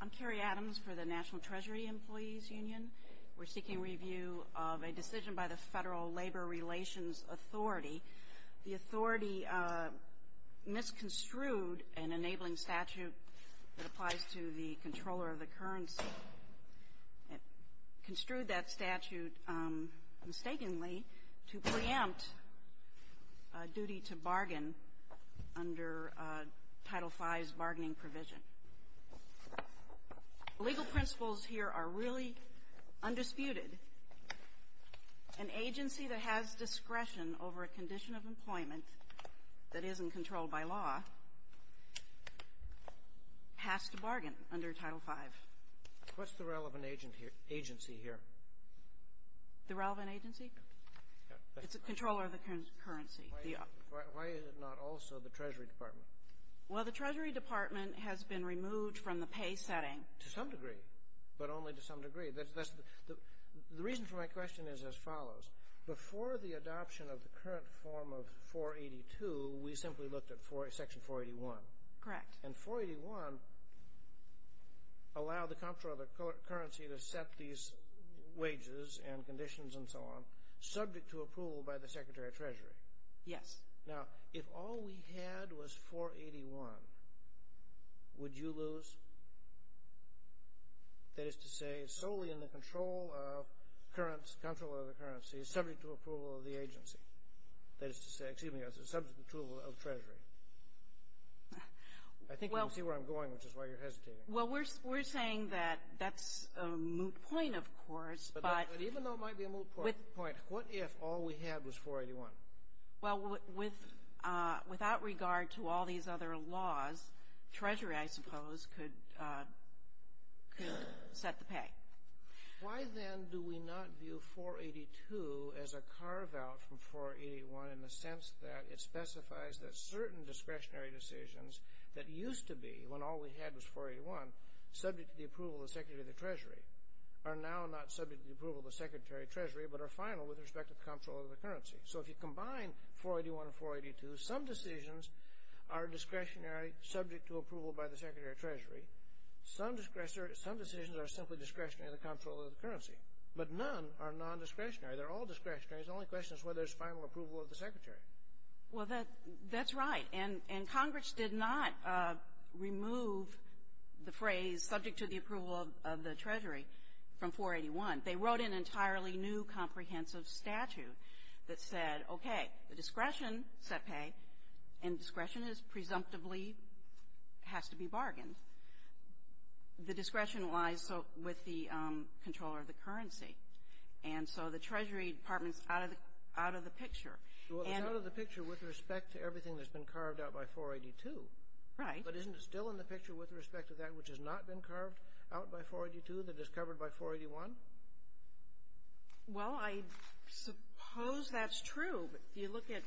I'm Carrie Adams for the National Treasury Employees Union. We're seeking review of a decision by the Federal Labor Relations Authority. The authority misconstrued an enabling statute that applies to the controller of the currency. It construed that statute mistakenly to preempt a duty to bargain under Title V's bargaining provision. The legal principles here are really undisputed. An agency that has discretion over a condition of employment that isn't controlled by law has to bargain under Title V. What's the relevant agency here? The relevant agency? It's the controller of the currency. Why is it not also the Treasury Department? Well, the Treasury Department has been removed from the pay setting. To some degree, but only to some degree. The reason for my question is as follows. Before the adoption of the current form of 482, we simply looked at Section 481. Correct. And 481 allowed the controller of the currency to set these wages and conditions and so on, subject to approval by the Secretary of Treasury. Yes. Now, if all we had was 481, would you lose? That is to say, solely in the control of currency, subject to approval of the agency. That is to say, excuse me, subject to approval of Treasury. I think you can see where I'm going, which is why you're hesitating. Well, we're saying that that's a moot point, of course. But even though it might be a moot point, what if all we had was 481? Well, without regard to all these other laws, Treasury, I suppose, could set the pay. Why, then, do we not view 482 as a carve-out from 481 in the sense that it specifies that certain discretionary decisions that used to be, when all we had was 481, subject to the approval of the Secretary of the Treasury, are now not subject to the approval of the Secretary of Treasury, but are final with respect to the controller of the currency? So if you combine 481 and 482, some decisions are discretionary, subject to approval by the Secretary of Treasury. Some decisions are simply discretionary in the control of the currency. But none are nondiscretionary. They're all discretionary. The only question is whether there's final approval of the Secretary. Well, that's right. And Congress did not remove the phrase, subject to the approval of the Treasury, from 481. They wrote an entirely new comprehensive statute that said, okay, the discretion set pay, and discretion is presumptively has to be bargained. The discretion lies with the controller of the currency. And so the Treasury Department's out of the picture. Well, it's out of the picture with respect to everything that's been carved out by 482. Right. But isn't it still in the picture with respect to that which has not been carved out by 482 that is covered by 481? Well, I suppose that's true. If you look at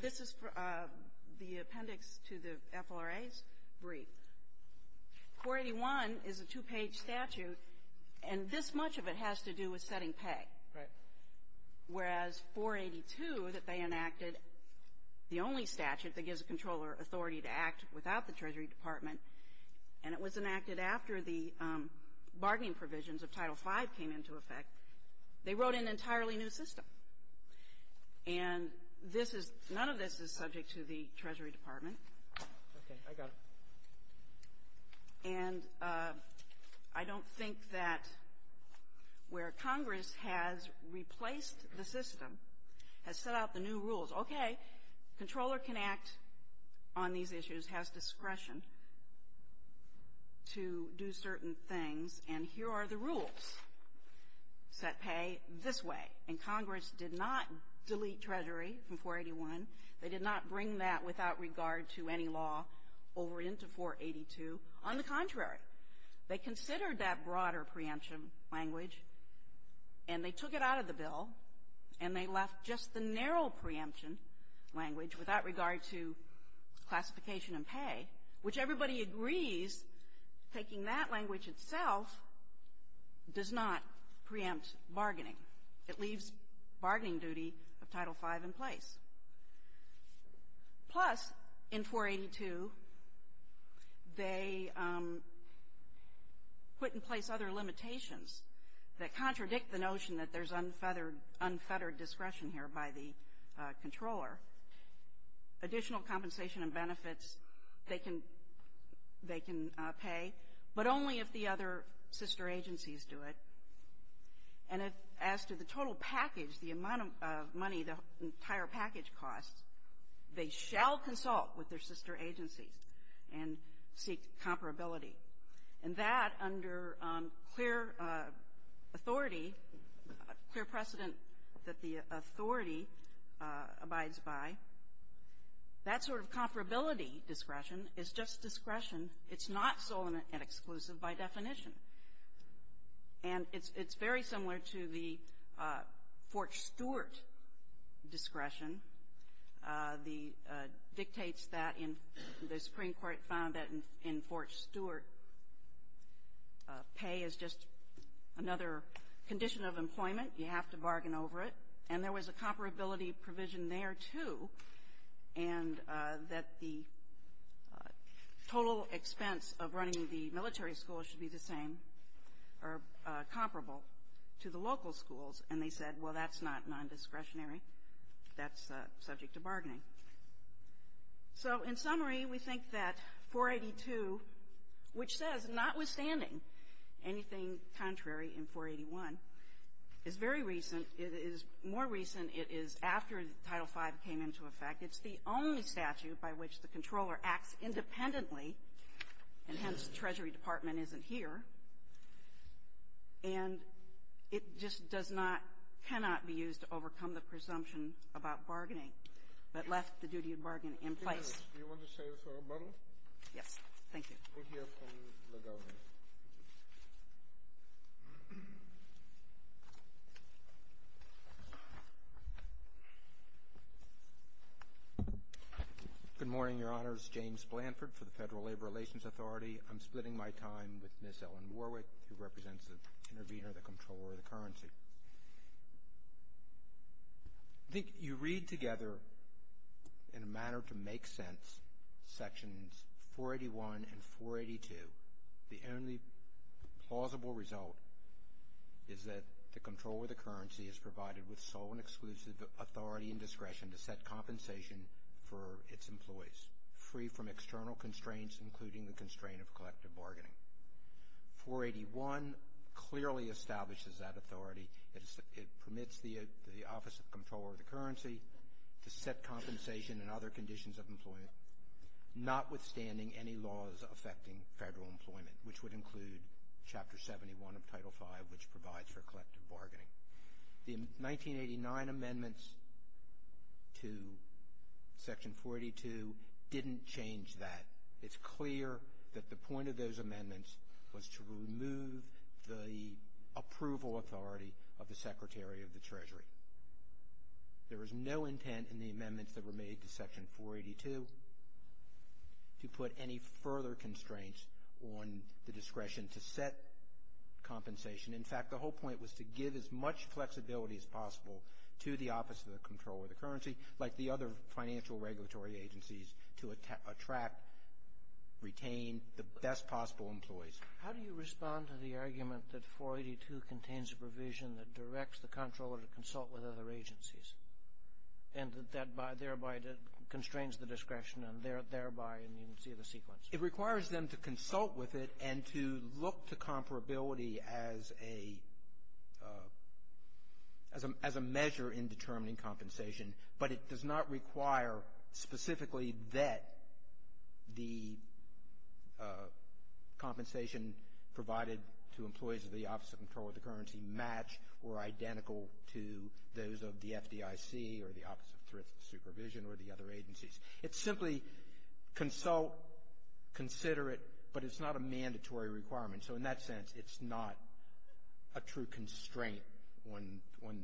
this is the appendix to the FLRA's brief. 481 is a two-page statute, and this much of it has to do with setting pay. Right. Whereas 482 that they enacted, the only statute that gives a controller authority to act without the Treasury Department, and it was enacted after the bargaining provisions of Title V came into effect, they wrote an entirely new system. And this is none of this is subject to the Treasury Department. Okay. I got it. And I don't think that where Congress has replaced the system, has set out the new rules. Okay. Controller can act on these issues, has discretion to do certain things. And here are the rules. Set pay this way. And Congress did not delete Treasury from 481. They did not bring that without regard to any law over into 482. On the contrary, they considered that broader preemption language, and they took it out of the bill, and they left just the narrow preemption language without regard to classification and pay, which everybody agrees taking that language itself does not preempt bargaining. It leaves bargaining duty of Title V in place. Plus, in 482, they put in place other limitations that contradict the notion that there's unfettered discretion here by the controller. Additional compensation and benefits they can pay, but only if the other sister agencies do it. And as to the total package, the amount of money the entire package costs, they shall consult with their sister agencies and seek comparability. And that, under clear authority, clear precedent that the authority abides by, that sort of comparability discretion is just discretion. It's not sole and exclusive by definition. And it's very similar to the Fort Stewart discretion, the dictates that in the Supreme Court found that in Fort Stewart, pay is just another condition of employment. You have to bargain over it. And there was a comparability provision there, too, and that the total expense of running the military school should be the same or comparable to the local schools. And they said, well, that's not nondiscretionary. That's subject to bargaining. So in summary, we think that 482, which says notwithstanding anything contrary in 481, is very recent. It is more recent. It is after Title V came into effect. It's the only statute by which the controller acts independently, and hence, the Treasury Department isn't here. And it just does not, cannot be used to overcome the presumption about bargaining, but left the duty of bargaining in place. Do you want to say a final word? Yes. Thank you. We'll hear from the Governor. Good morning, Your Honors. James Blanford for the Federal Labor Relations Authority. I'm splitting my time with Ms. Ellen Warwick, who represents the intervener, the controller of the currency. I think you read together, in a manner to make sense, Sections 481 and 482. The only plausible result is that the controller of the currency is provided with sole and exclusive authority and discretion to set compensation for its employees, free from external constraints, including the constraint of collective bargaining. 481 clearly establishes that authority. It permits the office of controller of the currency to set compensation and other conditions of employment, notwithstanding any laws affecting federal employment, which would include Chapter 71 of Title V, which provides for collective bargaining. The 1989 amendments to Section 482 didn't change that. It's clear that the point of those amendments was to remove the approval authority of the Secretary of the Treasury. There was no intent in the amendments that were made to Section 482 to put any further constraints on the discretion to set compensation. In fact, the whole point was to give as much flexibility as possible to the office of the controller of the currency, like the other financial regulatory agencies, to attract, retain the best possible employees. How do you respond to the argument that 482 contains a provision that directs the controller to consult with other agencies, and that thereby constrains the discretion, and thereby, and you can see the sequence. It requires them to consult with it and to look to comparability as a measure in determining compensation. But it does not require specifically that the compensation provided to employees of the office of the controller of the currency match or identical to those of the FDIC or the Office of Thriftless Supervision or the other agencies. It's simply consult, consider it, but it's not a mandatory requirement. So in that sense, it's not a true constraint on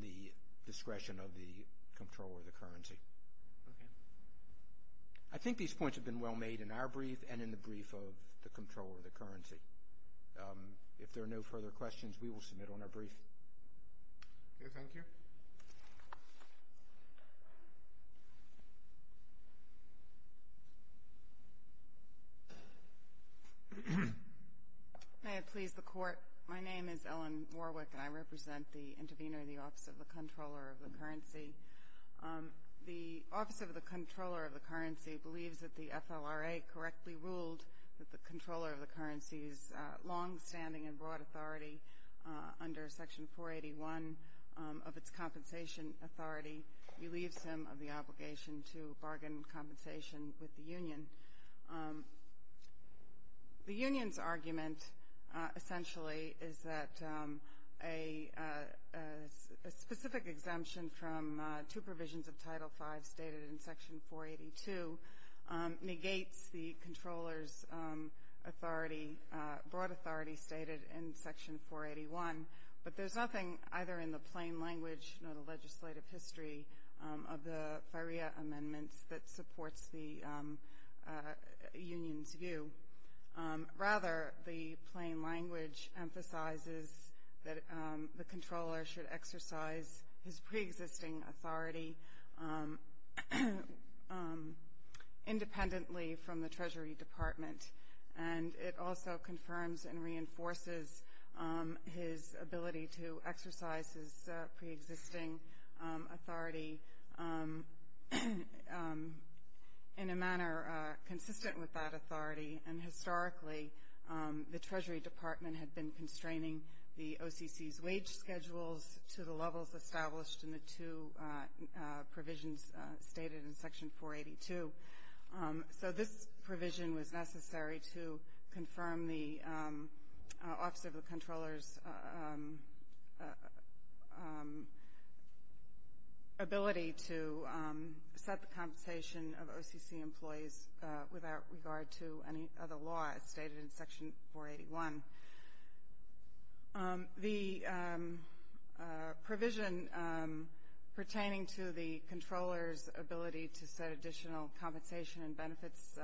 the discretion of the controller of the currency. I think these points have been well made in our brief and in the brief of the controller of the currency. If there are no further questions, we will submit on our brief. Okay. Thank you. May it please the Court. My name is Ellen Warwick, and I represent the intervener in the Office of the Controller of the Currency. The Office of the Controller of the Currency believes that the FLRA correctly ruled that the controller of the currency's long-standing and broad authority under Section 481 of its compensation authority relieves him of the obligation to bargain compensation with the union. The union's argument essentially is that a specific exemption from two provisions of Title V stated in Section 482 negates the controller's authority, broad authority stated in Section 481, but there's nothing either in the plain language or the legislative history of the FLRA amendments that supports the union's view. Rather, the plain language emphasizes that the controller should exercise his preexisting authority independently from the Treasury Department, and it also confirms and reinforces his ability to exercise his preexisting authority in a manner consistent with that authority. And historically, the Treasury Department had been constraining the OCC's wage schedules to the levels established in the two provisions stated in Section 482. So this provision was necessary to confirm the Office of the Controller's ability to set the compensation of OCC employees without regard to any other law as stated in Section 481. The provision pertaining to the controller's ability to set additional compensation and benefits,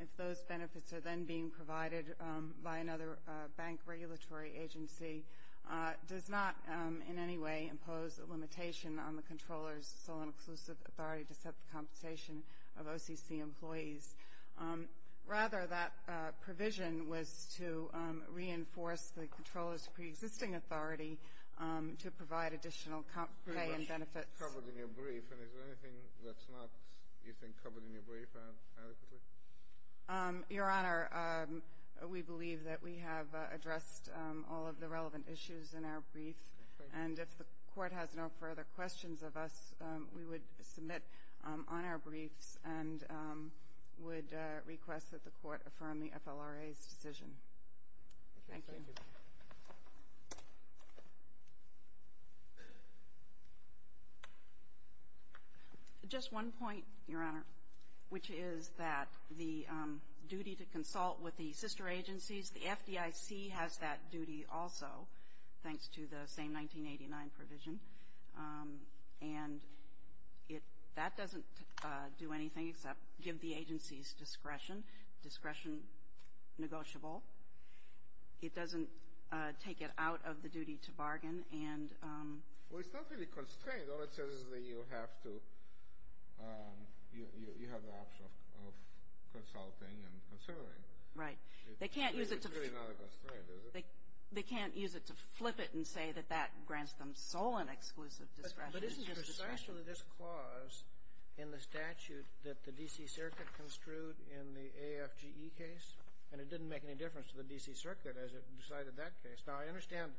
if those benefits are then being provided by another bank regulatory agency, does not in any way impose a limitation on the controller's sole and exclusive authority to set the compensation of OCC employees. Rather, that provision was to reinforce the controller's preexisting authority to provide additional pay and benefits. You have covered in your brief, and is there anything that's not, you think, covered in your brief adequately? Your Honor, we believe that we have addressed all of the relevant issues in our brief. Okay. Thank you. And if the Court has no further questions of us, we would submit on our briefs and would request that the Court affirm the FLRA's decision. Thank you. Thank you. Just one point, Your Honor, which is that the duty to consult with the sister agencies, the FDIC has that duty also, thanks to the same 1989 provision. And that doesn't do anything except give the agencies discretion, discretion negotiable. It doesn't take it out of the duty to bargain. Well, it's not really constrained. All it says is that you have to, you have the option of consulting and considering. Right. It's really not a constraint, is it? They can't use it to flip it and say that that grants them sole and exclusive discretion. But isn't precisely this clause in the statute that the D.C. Circuit construed in the AFGE case, and it didn't make any difference to the D.C. Circuit as it decided that case. Now, I understand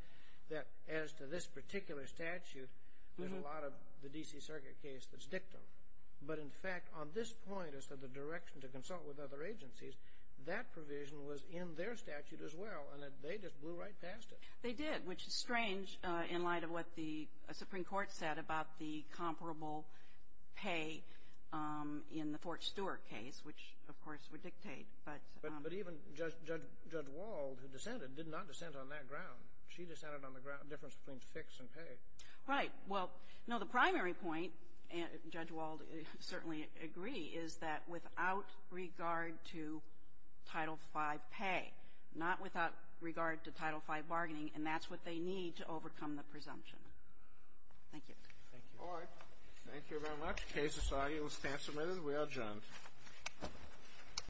that as to this particular statute, there's a lot of the D.C. Circuit case that's dictum. But, in fact, on this point as to the direction to consult with other agencies, that provision was in their statute as well, and they just blew right past it. They did, which is strange in light of what the Supreme Court said about the comparable pay in the Fort Stewart case, which, of course, would dictate. But even Judge Wald, who dissented, did not dissent on that ground. She dissented on the difference between fix and pay. Right. Well, no, the primary point, and Judge Wald certainly agree, is that without regard to Title V pay, not without regard to Title V bargaining, and that's what they need to overcome the presumption. Thank you. Thank you. All right. Thank you very much. The case is signed and will stand submitted. We are adjourned.